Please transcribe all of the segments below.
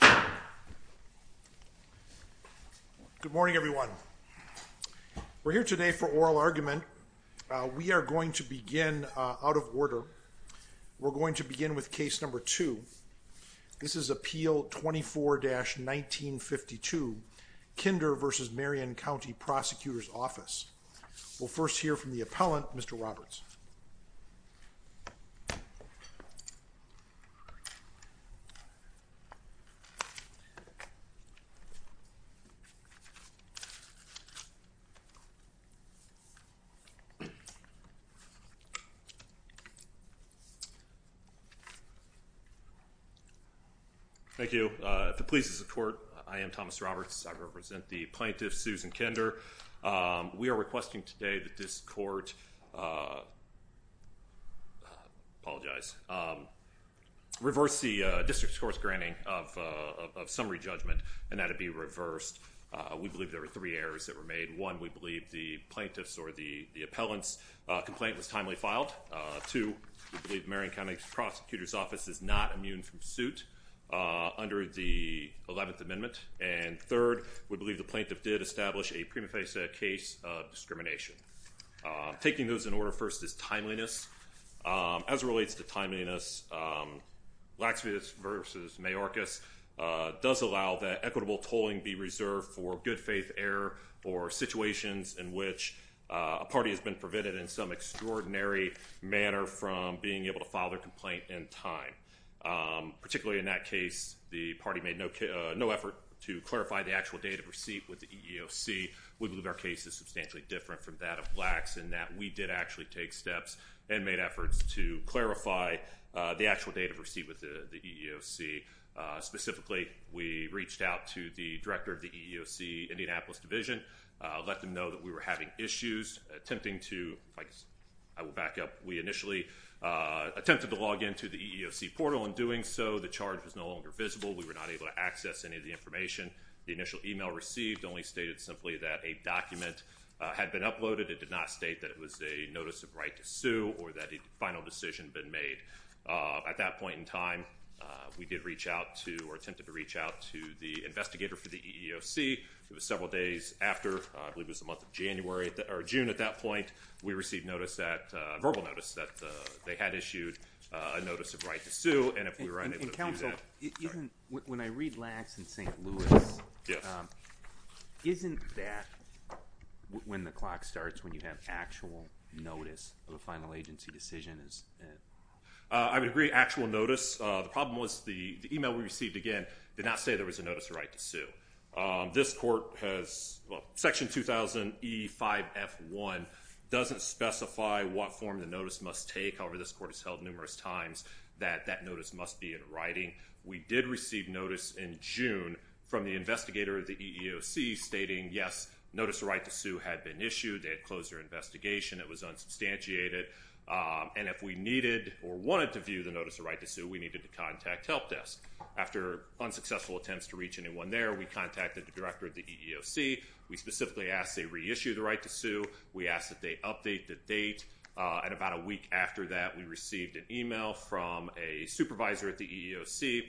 Good morning everyone. We're here today for oral argument. We are going to begin out of order. We're going to begin with case number two. This is Appeal 24-1952 Kinder v. Marion County Prosecutor's Office. We'll first hear from the appellant, Mr. Roberts. Thank you. If it pleases the court, I am Thomas Roberts. I represent the plaintiff Susan Kinder. We are requesting today that this court reverse the district's course granting of summary judgment, and that it be reversed. We believe there were three errors that were made. One, we believe the plaintiff's or the appellant's complaint was timely filed. Two, we believe Marion County Prosecutor's Office is not immune from suit under the 11th Amendment to establish a prima facie case of discrimination. Taking those in order first is timeliness. As it relates to timeliness, Laxvis v. Mayorkas does allow that equitable tolling be reserved for good faith error or situations in which a party has been prevented in some extraordinary manner from being able to file their complaint in time. Particularly in that case, the party made no effort to clarify the actual date of receipt with the EEOC. We believe our case is substantially different from that of Lax, in that we did actually take steps and made efforts to clarify the actual date of receipt with the EEOC. Specifically, we reached out to the director of the EEOC Indianapolis Division, let them know that we were having issues, attempting to, I will back up, we initially attempted to log into the EEOC portal. In doing so, the charge was no longer visible. We were not able to access any of the information. The initial email received only stated simply that a document had been uploaded. It did not state that it was a notice of right to sue or that a final decision had been made. At that point in time, we did reach out to or attempted to reach out to the investigator for the EEOC. It was several days after, I believe it was the month of January or June at that point, we received notice that, verbal issued a notice of right to sue. And if we were unable to do that. When I read Lax and St. Louis, isn't that when the clock starts, when you have actual notice of a final agency decision? I would agree, actual notice. The problem was the email we received, again, did not say there was a notice of right to sue. This court has, well, section 2000E5F1 doesn't specify what form the notice must take. However, this court has held numerous times that that notice must be in writing. We did receive notice in June from the investigator of the EEOC stating, yes, notice of right to sue had been issued. They had closed their investigation. It was unsubstantiated. And if we needed or wanted to view the notice of right to sue, we needed to contact helpdesk. After unsuccessful attempts to reach anyone there, we contacted the director of the EEOC. We specifically asked they reissue the right to sue. We asked that they update the date. And about a week after that, we received an email from a supervisor at the EEOC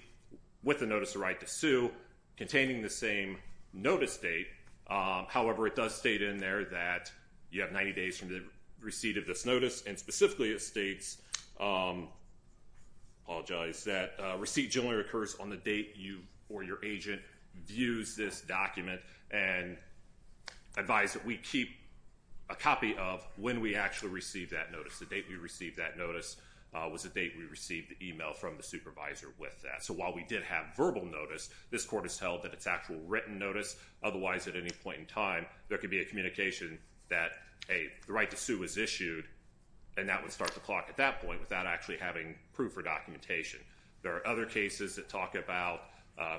with a notice of right to sue containing the same notice date. However, it does state in there that you have 90 days from the receipt of this notice. And specifically, it states, I apologize, that receipt generally occurs on the date you or your agent views this document and advised that we keep a copy of when we actually received that notice. The date we received that notice was the date we received the email from the supervisor with that. So while we did have verbal notice, this court has held that it's actual written notice. Otherwise, at any point in time, there could be a communication that a right to sue was issued, and that would start the clock at that point without actually having proof or documentation. There are other cases that talk about,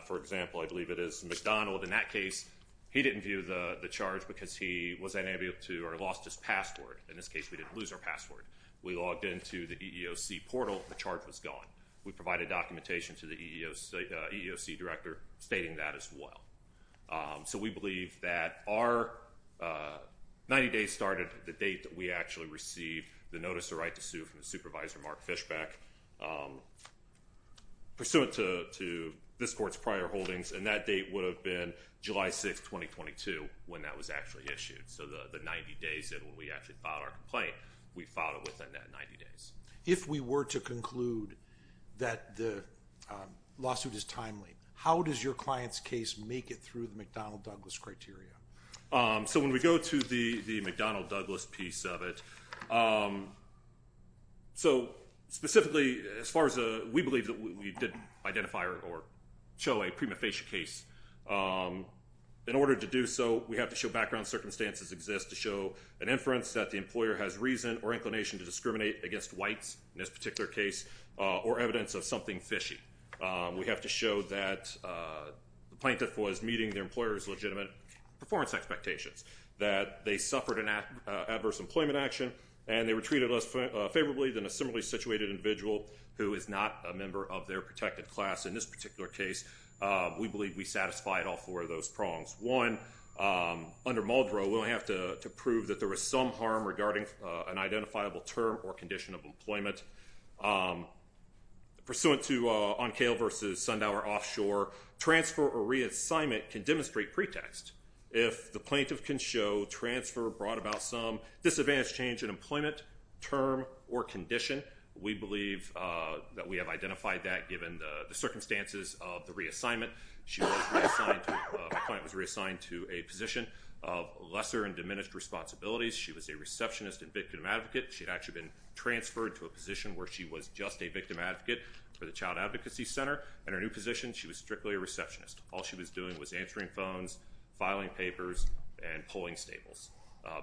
for example, I believe it is McDonald. In that case, he didn't view the charge because he was unable to or lost his password. In this case, we didn't lose our password. We logged into the EEOC portal. The charge was gone. We provided documentation to the EEOC director stating that as well. So we believe that our 90 days started the date that we actually received the notice of right to sue from the supervisor, Mark Fishbeck, pursuant to this court's prior holdings. And that date would have been July 6, 2022 when that was actually issued. So the 90 days that we actually filed our complaint, we filed it within that 90 days. If we were to conclude that the lawsuit is timely, how does your client's case make it through the McDonnell-Douglas criteria? So when we go to the McDonnell-Douglas piece of it, so specifically, as far as we believe that we did identify or show a prima facie case, in order to do so, we have to show background circumstances exist to show an inference that the employer has reason or inclination to discriminate against whites, in this particular case, or evidence of something fishy. We have to show that the plaintiff was meeting their employer's legitimate performance expectations, that they suffered an adverse employment action, and they were treated less favorably than a similarly situated individual who is not a member of their protected class in this particular case. We believe we satisfied all four of those prongs. One, under Muldrow, we don't have to prove that there was some harm regarding an identifiable term or condition of employment. Pursuant to Oncale v. Sundower Offshore, transfer or reassignment can demonstrate pretext. If the plaintiff can show transfer brought about some disadvantaged change in of the reassignment. My client was reassigned to a position of lesser and diminished responsibilities. She was a receptionist and victim advocate. She had actually been transferred to a position where she was just a victim advocate for the Child Advocacy Center. In her new position, she was strictly a receptionist. All she was doing was answering phones, filing papers, and pulling staples.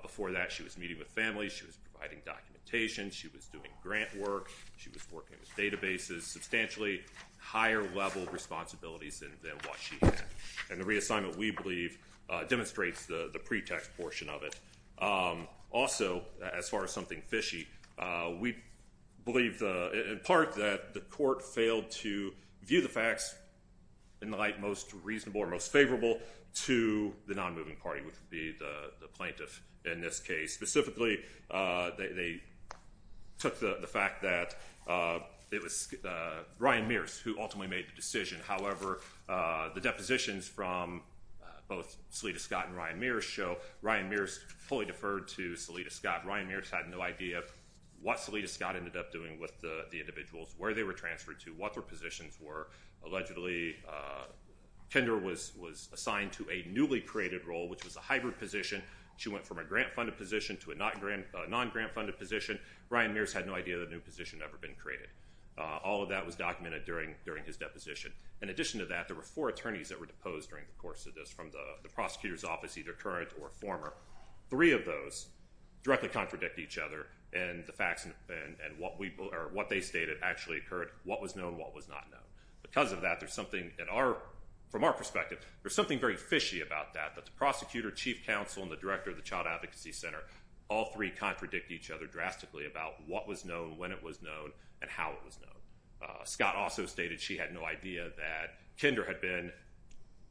Before that, she was meeting with families, she was providing documentation, she was doing grant work, she was working with databases. Substantially higher level responsibilities than what she had. And the reassignment, we believe, demonstrates the pretext portion of it. Also, as far as something fishy, we believe in part that the court failed to view the facts in the light most reasonable or most favorable to the non-moving party, which would be the plaintiff in this case. Specifically, they took the fact that it was Ryan Mears who ultimately made the decision. However, the depositions from both Salita Scott and Ryan Mears show Ryan Mears fully deferred to Salita Scott. Ryan Mears had no idea what Salita Scott ended up doing with the individuals, where they were transferred to, what their positions were. Allegedly, Kendra was assigned to a newly created role, which was a hybrid position. She went from a grant-funded position to a non-grant-funded position. Ryan Mears had no idea that a new position had ever been created. All of that was documented during his deposition. In addition to that, there were four attorneys that were deposed during the course of this from the prosecutor's office, either current or former. Three of those directly contradict each other, and the facts and what they stated actually occurred, what was known, what was not known. Because of that, from our perspective, there's something very fishy about that, that the prosecutor, chief counsel, and the director of the Child Advocacy Center, all three contradict each other drastically about what was known, when it was known, and how it was known. Scott also stated she had no idea that Kendra had been,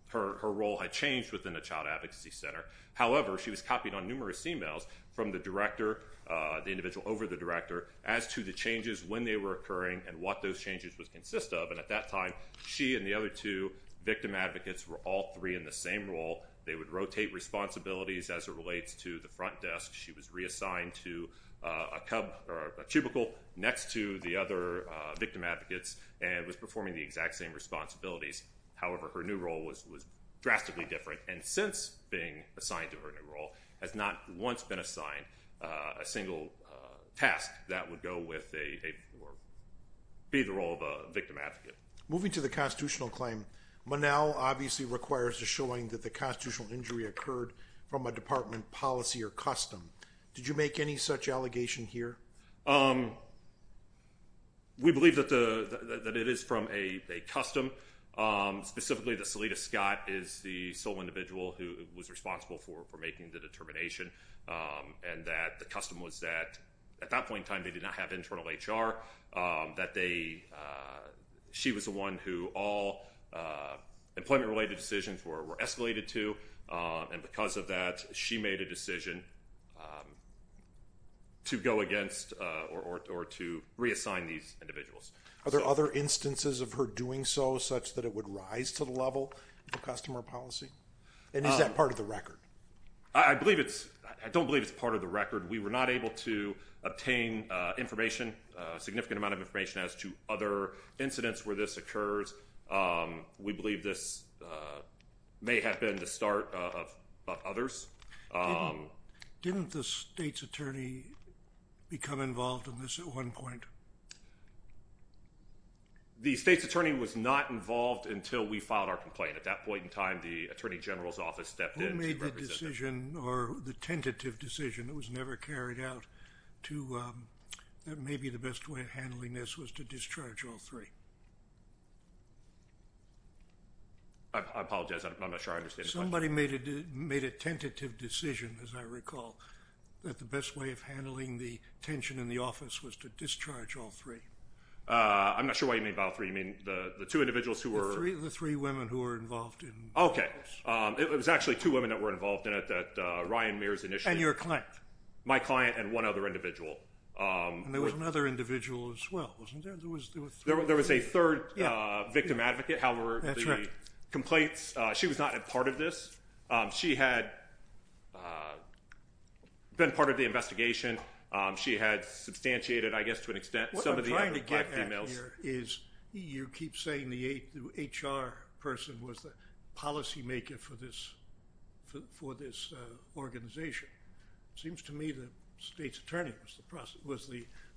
her role had changed within the Child Advocacy Center. However, she was copied on numerous emails from the director, the individual over the director, as to the changes, when they were to consist of, and at that time, she and the other two victim advocates were all three in the same role. They would rotate responsibilities as it relates to the front desk. She was reassigned to a cubicle next to the other victim advocates, and was performing the exact same responsibilities. However, her new role was drastically different, and since being assigned to her new role, has not once been assigned a single task that would go with a, or be the role of a victim advocate. Moving to the constitutional claim, Manow obviously requires a showing that the constitutional injury occurred from a department policy or custom. Did you make any such allegation here? We believe that it is from a custom. Specifically, the Salida Scott is the sole individual who was responsible for making the determination, and that the custom was that, at that point in time, they did not have internal HR. She was the one who all employment-related decisions were escalated to, and because of that, she made a decision to go against, or to reassign these individuals. Are there other instances of her doing so, such that it would rise to the level of customer policy? And is that part of the record? I believe it's, I don't believe it's part of the record. We were not able to obtain information, a significant amount of information, as to other incidents where this occurs. We believe this may have been the start of others. Didn't the state's attorney become involved in this at one point? The state's attorney was not involved until we filed our complaint. At that point in time, the Attorney General's office stepped in to represent them. Who made the decision, or the tentative decision, that was never carried out, to, that maybe the best way of handling this was to discharge all three? I apologize, I'm not sure I understand the question. Somebody made a tentative decision, as I recall, that the best way of handling the tension in the office was to discharge all three. I'm not sure what you mean by all three. You mean the two individuals who were... The three women who were involved in this. Okay. It was actually two women that were involved in it that Ryan Mears initiated. And your client. My client and one other individual. And there was another individual as well, wasn't there? There were three. There was a third victim advocate. However, the complaints, she was not a part of this. She had been part of the investigation. She had substantiated, I guess, to an extent... What I'm trying to get at here is you keep saying the HR person was the policymaker for this organization. Seems to me the state's attorney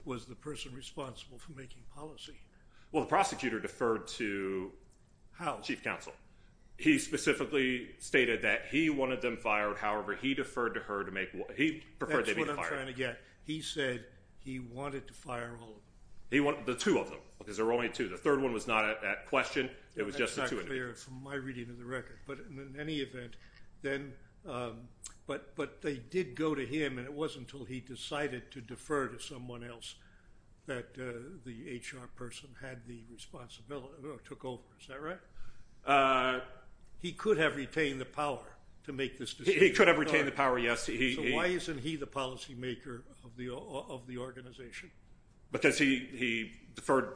was the person responsible for making policy. Well, the prosecutor deferred to chief counsel. He specifically stated that he wanted them fired. However, he deferred to her to make... That's what I'm trying to get. He said he wanted to fire all of them. The two of them, because there were only two. The third one was not at question. It was just the two of them. That's not clear from my reading of the record. But in any event, they did go to him, and it wasn't until he decided to defer to someone else that the HR person took over. Is that right? He could have retained the power to make this decision. He could have retained the power, yes. So why isn't he the policymaker of the organization? Because he deferred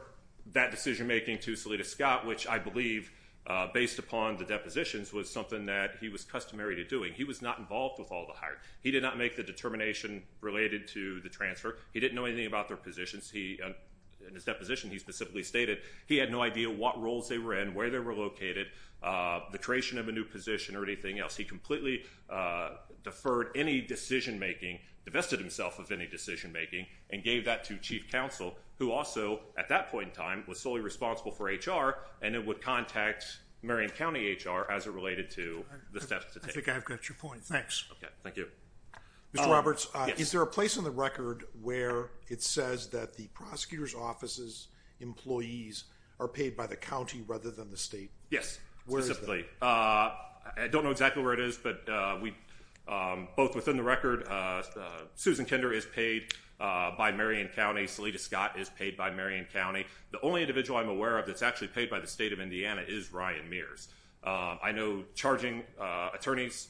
that decision-making to Salida Scott, which I believe, based upon the depositions, was something that he was customary to doing. He was not involved with all the hiring. He did not make the determination related to the transfer. He didn't know anything about their positions. In his deposition, he specifically stated he had no idea what roles they were in, where they were located, the creation of a new position, or anything else. He completely deferred any decision-making, divested himself of any decision-making, and gave that to chief counsel, who also, at that point in time, was solely responsible for HR, and then would contact Marion County HR as it related to the steps to take. I think I've got your point. Thanks. Okay. Thank you. Mr. Roberts, is there a place on the record where it says that the prosecutor's office's employees are paid by the county rather than the state? Yes, specifically. I don't know exactly where it is, but both within the record, Susan Kinder is paid by Marion County. Salida Scott is paid by Marion County. The only individual I'm aware of that's actually paid by the state of Indiana is Ryan Mears. I know charging attorneys,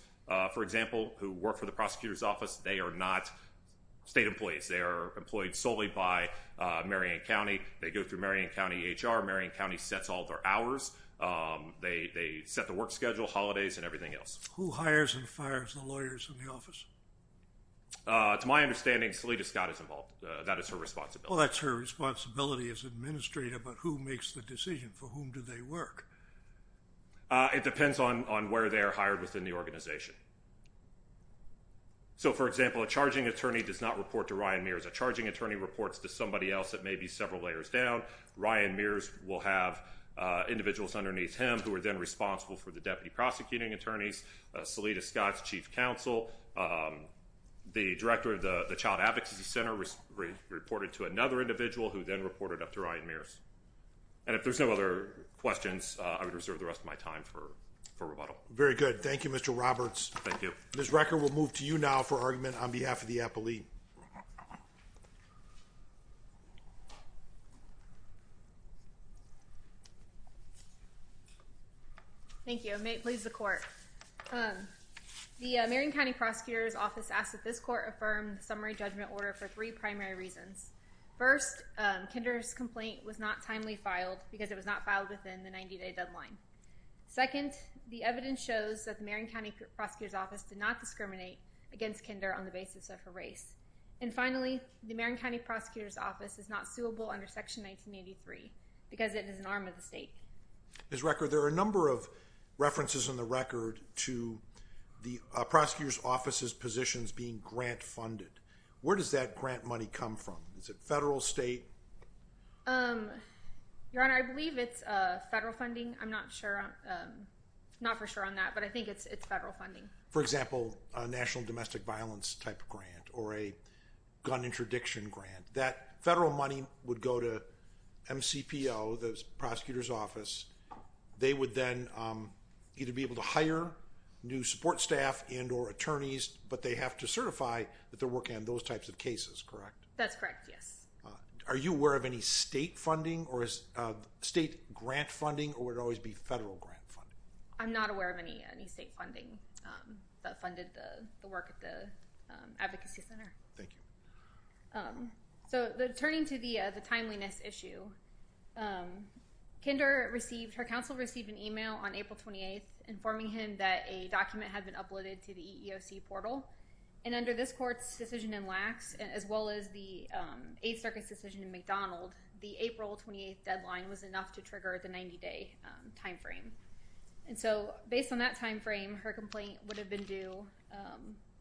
for example, who work for the prosecutor's office, they are not state employees. They are employed solely by Marion County. They go through Marion County HR. Marion County sets all their hours. They set the work schedule, holidays, and everything else. Who hires and fires the lawyers in the office? To my understanding, Salida Scott is involved. That is her responsibility. Well, that's her responsibility as administrator, but who makes the decision? For whom do they work? It depends on where they are hired within the organization. So, for example, a charging attorney does not report to Ryan Mears. A charging attorney reports to somebody else that may be several layers down. Ryan Mears will have individuals underneath him who are then responsible for the deputy prosecuting attorneys. Salida Scott's chief counsel, the director of the Child Advocacy Center, reported to another individual who then reported up to Ryan Mears. And if there's no other questions, I would reserve the rest of my time for rebuttal. Very good. Thank you, Mr. Roberts. Thank you. Ms. Recker, we'll move to you now for argument on behalf of the appellee. Thank you, and may it please the court. The Marion County prosecutor's office asks that this court affirm the summary judgment order for three primary reasons. First, Kinder's complaint was not timely filed because it was not filed within the 90-day deadline. Second, the evidence shows that the Marion County prosecutor's office did not discriminate against Kinder on the basis of her race. And finally, the Marion County prosecutor's office is not suable under Section 1983 because it is an arm of the state. Ms. Recker, there are a number of references in the record to the prosecutor's office's positions being grant funded. Where does that grant money come from? Is it federal, state? Your Honor, I believe it's federal funding. I'm not for sure on that, but I think it's federal funding. For example, a national domestic violence type grant or a gun interdiction grant. That federal money would go to MCPO, the prosecutor's office. They would then either be able to hire new support staff and or attorneys, but they have to certify that they're working on those types of cases, correct? That's correct, yes. Are you aware of any state funding or state grant funding or would it always be federal grant funding? I'm not aware of any state funding that funded the work at the advocacy center. Thank you. So, turning to the timeliness issue. Kinder received, her counsel received an email on April 28th informing him that a document had been uploaded to the EEOC portal. And under this court's decision in Lacks, as well as the Eighth Circuit's decision in McDonald, the April 28th deadline was enough to trigger the 90-day time frame. And so, based on that time frame, her complaint would have been due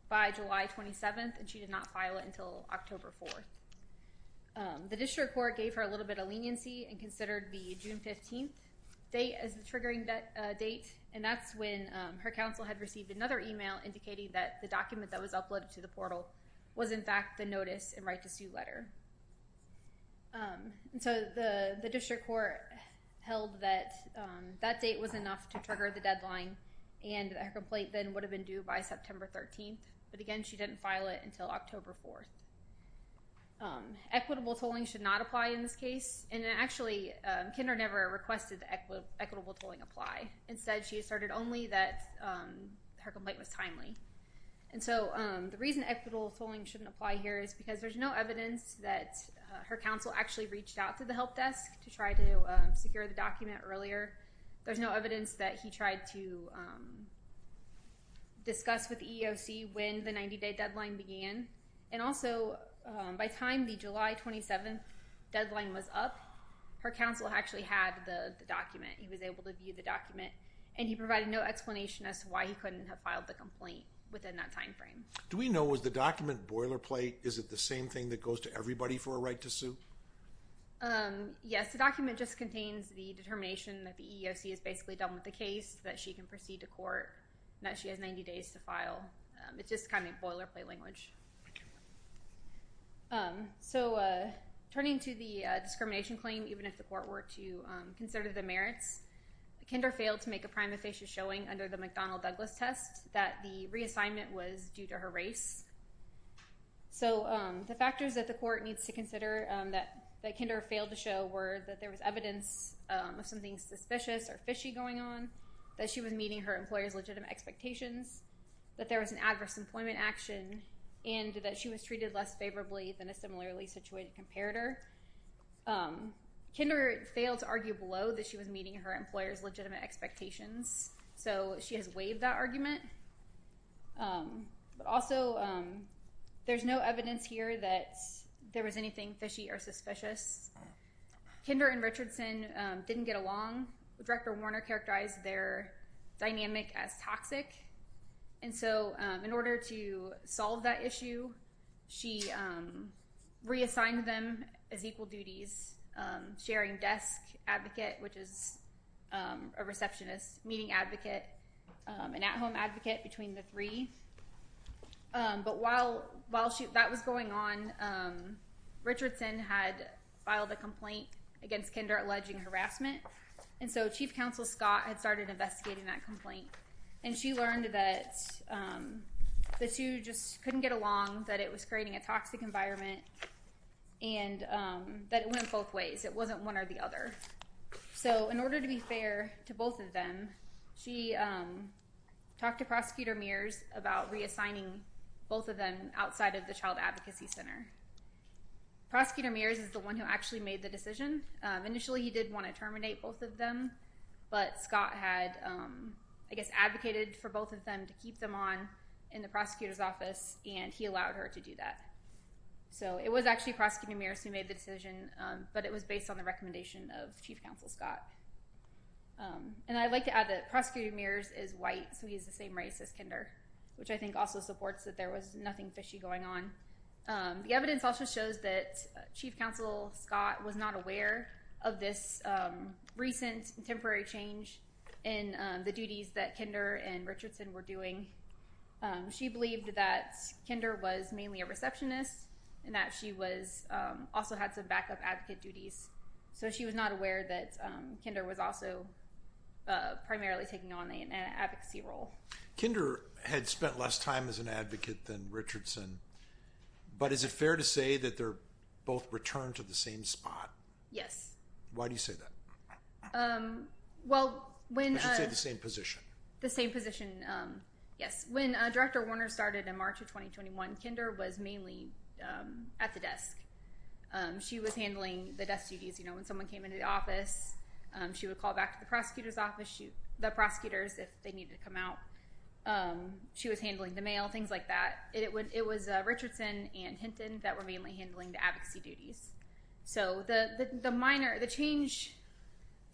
by July 27th and she did not file it until October 4th. The district court gave her a little bit of leniency and considered the June 15th date as the triggering date. And that's when her counsel had received another email indicating that the document that was uploaded to the portal was, in fact, the notice and right to sue letter. And so, the district court held that that date was enough to trigger the deadline and her complaint then would have been due by September 13th. But again, she didn't file it until October 4th. Equitable tolling should not apply in this case. And actually, Kinder never requested equitable tolling apply. Instead, she asserted only that her complaint was timely. And so, the reason equitable tolling shouldn't apply here is because there's no evidence that her counsel actually reached out to the help desk to try to secure the document earlier. There's no evidence that he tried to discuss with the EEOC when the 90-day deadline began. And also, by the time the July 27th deadline was up, her counsel actually had the document. He was able to view the document. And he provided no explanation as to why he couldn't have filed the complaint within that timeframe. Do we know, was the document boilerplate? Is it the same thing that goes to everybody for a right to sue? Yes, the document just contains the determination that the EEOC has basically done with the case, that she can proceed to court, and that she has 90 days to file. It's just kind of boilerplate language. So, turning to the discrimination claim, even if the court were to consider the merits, Kinder failed to make a prime officious showing under the McDonnell-Douglas test that the reassignment was due to her race. So, the factors that the court needs to consider that Kinder failed to show were that there was evidence of something suspicious or fishy going on, that she was meeting her employer's legitimate expectations, that there was an adverse employment action, and that she was treated less favorably than a similarly situated comparator. Kinder failed to argue below that she was meeting her employer's legitimate expectations. So, she has waived that argument. But also, there's no evidence here that there was anything fishy or suspicious. Kinder and Richardson didn't get along. Director Warner characterized their dynamic as toxic. And so, in order to solve that issue, she reassigned them as equal duties, sharing desk advocate, which is a receptionist, meeting advocate, and at-home advocate between the three. But while that was going on, Richardson had filed a complaint against Kinder alleging harassment. And so, Chief Counsel Scott had started investigating that complaint. And she learned that the two just couldn't get along, that it was creating a toxic environment, and that it went both ways. It wasn't one or the other. So, in order to be fair to both of them, she talked to Prosecutor Mears about reassigning both of them outside of the Child Advocacy Center. Prosecutor Mears is the one who actually made the decision. Initially, he did want to terminate both of them. But Scott had, I guess, advocated for both of them to keep them on in the prosecutor's office, and he allowed her to do that. So, it was actually Prosecutor Mears who made the decision, but it was based on the recommendation of Chief Counsel Scott. And I'd like to add that Prosecutor Mears is white, so he's the same race as Kinder, which I think also supports that there was nothing fishy going on. The evidence also shows that Chief Counsel Scott was not aware of this recent temporary change in the duties that Kinder and Richardson were doing. She believed that Kinder was mainly a receptionist, and that she also had some backup advocate duties. So, she was not aware that Kinder was also primarily taking on an advocacy role. Kinder had spent less time as an advocate than Richardson. But is it fair to say that they're both returned to the same spot? Yes. Why do you say that? I should say the same position. The same position, yes. When Director Warner started in March of 2021, Kinder was mainly at the desk. She was handling the desk duties. You know, when someone came into the office, she would call back to the prosecutor's office, the prosecutors, if they needed to come out. She was handling the mail, things like that. It was Richardson and Hinton that were mainly handling the advocacy duties. So, the minor, the change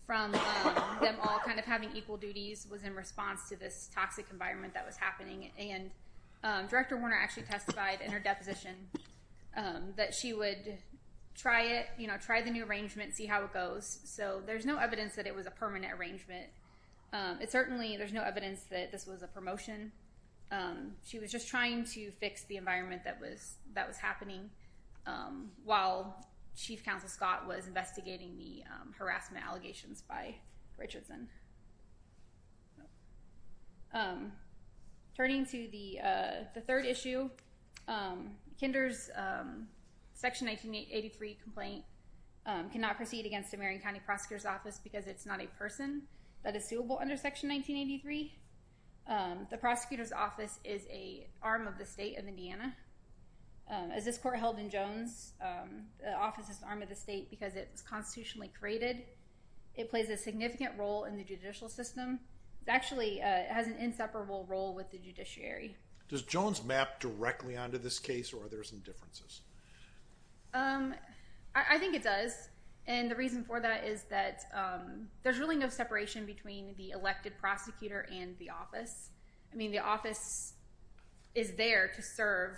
from them all kind of having equal duties was in response to this toxic environment that was happening. And Director Warner actually testified in her deposition that she would try it, you know, try the new arrangement, see how it goes. So, there's no evidence that it was a permanent arrangement. It certainly, there's no evidence that this was a promotion. She was just trying to fix the environment that was happening while Chief Counsel Scott was investigating the harassment allegations by Richardson. Turning to the third issue, Kinder's Section 1983 complaint cannot proceed against the Marion County Prosecutor's Office because it's not a person that is suable under Section 1983. The prosecutor's office is an arm of the state of Indiana. As this court held in Jones, the office is an arm of the state because it was constitutionally created. It plays a significant role in the judicial system. It actually has an inseparable role with the judiciary. Does Jones map directly onto this case or are there some differences? I think it does. And the reason for that is that there's really no separation between the elected prosecutor and the office. I mean, the office is there to serve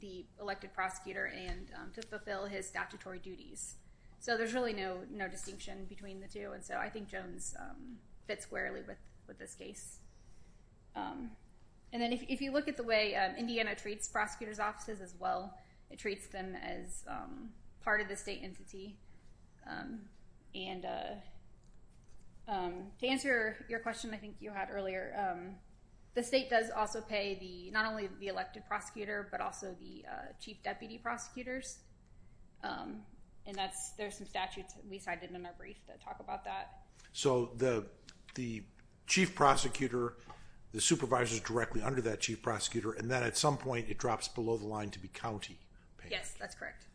the elected prosecutor and to fulfill his statutory duties. So, there's really no distinction between the two. And so, I think Jones fits squarely with this case. And then if you look at the way Indiana treats prosecutor's offices as well, it treats them as part of the state entity. And to answer your question I think you had earlier, the state does also pay not only the elected prosecutor but also the chief deputy prosecutors. And there's some statutes we cited in our brief that talk about that. So, the chief prosecutor, the supervisor is directly under that chief prosecutor and then at some point it drops below the line to be county. Yes, that's correct.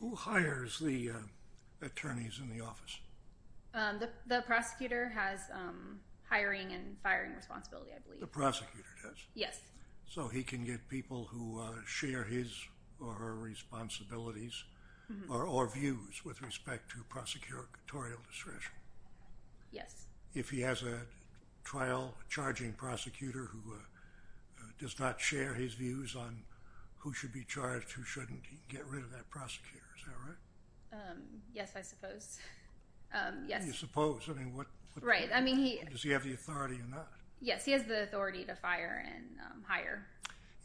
Who hires the attorneys in the office? The prosecutor has hiring and firing responsibility, I believe. The prosecutor does? Yes. So, he can get people who share his or her responsibilities or views with respect to prosecutorial discretion? Yes. If he has a trial charging prosecutor who does not share his views on who should be charged, who shouldn't, he can get rid of that prosecutor. Is that right? Yes, I suppose. Yes. You suppose? I mean, does he have the authority or not? Yes, he has the authority to fire and hire.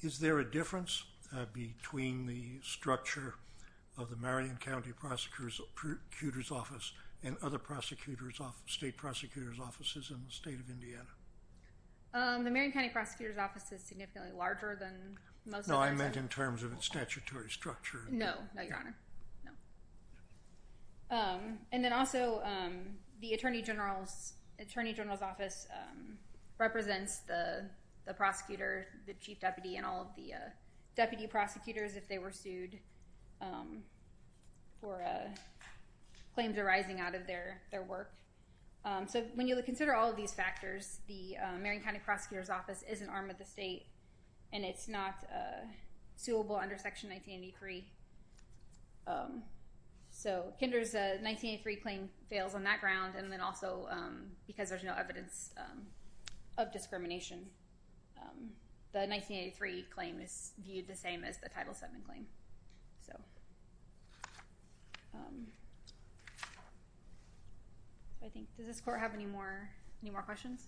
Is there a difference between the structure of the Marion County Prosecutor's Office and other state prosecutors' offices in the state of Indiana? The Marion County Prosecutor's Office is significantly larger than most of our state. No, I meant in terms of its statutory structure. No, Your Honor. No. And then also, the Attorney General's Office represents the prosecutor, the chief deputy, and all of the deputy prosecutors if they were sued for claims arising out of their work. So, when you consider all of these factors, the Marion County Prosecutor's Office is an arm of the state, and it's not suable under Section 1983. So, Kinder's 1983 claim fails on that ground, and then also because there's no evidence of discrimination. The 1983 claim is viewed the same as the Title VII claim. Does this court have any more questions?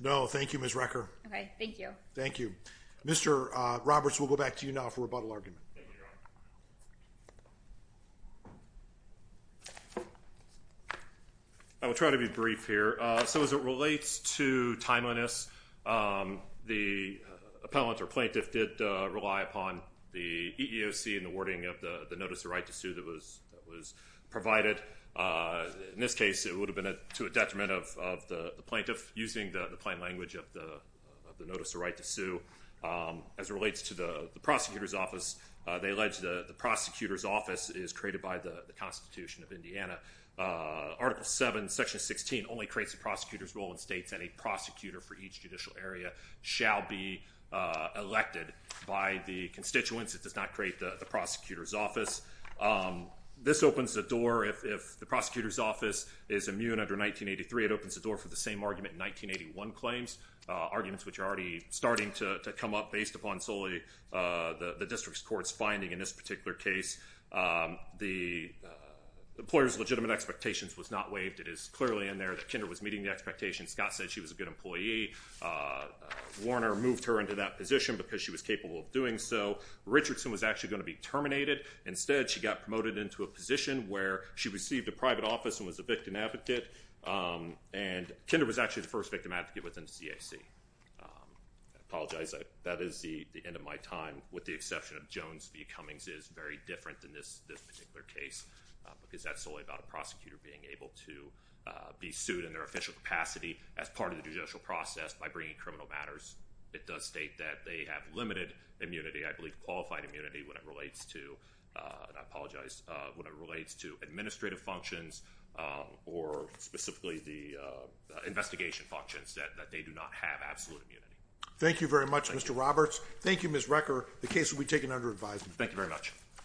No, thank you, Ms. Recker. Okay, thank you. Thank you. Mr. Roberts, we'll go back to you now for rebuttal argument. I will try to be brief here. So, as it relates to timeliness, the appellant or plaintiff did rely upon the EEOC in the wording of the Notice of Right to Sue that was provided. In this case, it would have been to a detriment of the plaintiff using the plain language of the Notice of Right to Sue. As it relates to the prosecutor's office, they allege the prosecutor's office is created by the Constitution of Indiana. Article VII, Section 16 only creates the prosecutor's role in states, and a prosecutor for each judicial area shall be elected by the constituents. It does not create the prosecutor's office. This opens the door if the prosecutor's office is immune under 1983. It opens the door for the same argument in 1981 claims, arguments which are already starting to come up based upon solely the district court's finding in this particular case. The employer's legitimate expectations was not waived. It is clearly in there that Kinder was meeting the expectations. Scott said she was a good employee. Warner moved her into that position because she was capable of doing so. Richardson was actually going to be terminated. Instead, she got promoted into a position where she received a private office and was a victim advocate. And Kinder was actually the first victim advocate within CAC. I apologize. That is the end of my time. With the exception of Jones v. Cummings, it is very different than this particular case because that's solely about a prosecutor being able to be sued in their official capacity as part of the judicial process by bringing criminal matters. It does state that they have limited immunity. I believe qualified immunity when it relates to administrative functions or specifically the investigation functions that they do not have absolute immunity. Thank you very much, Mr. Roberts. Thank you, Ms. Recker. The case will be taken under advisement. Thank you very much.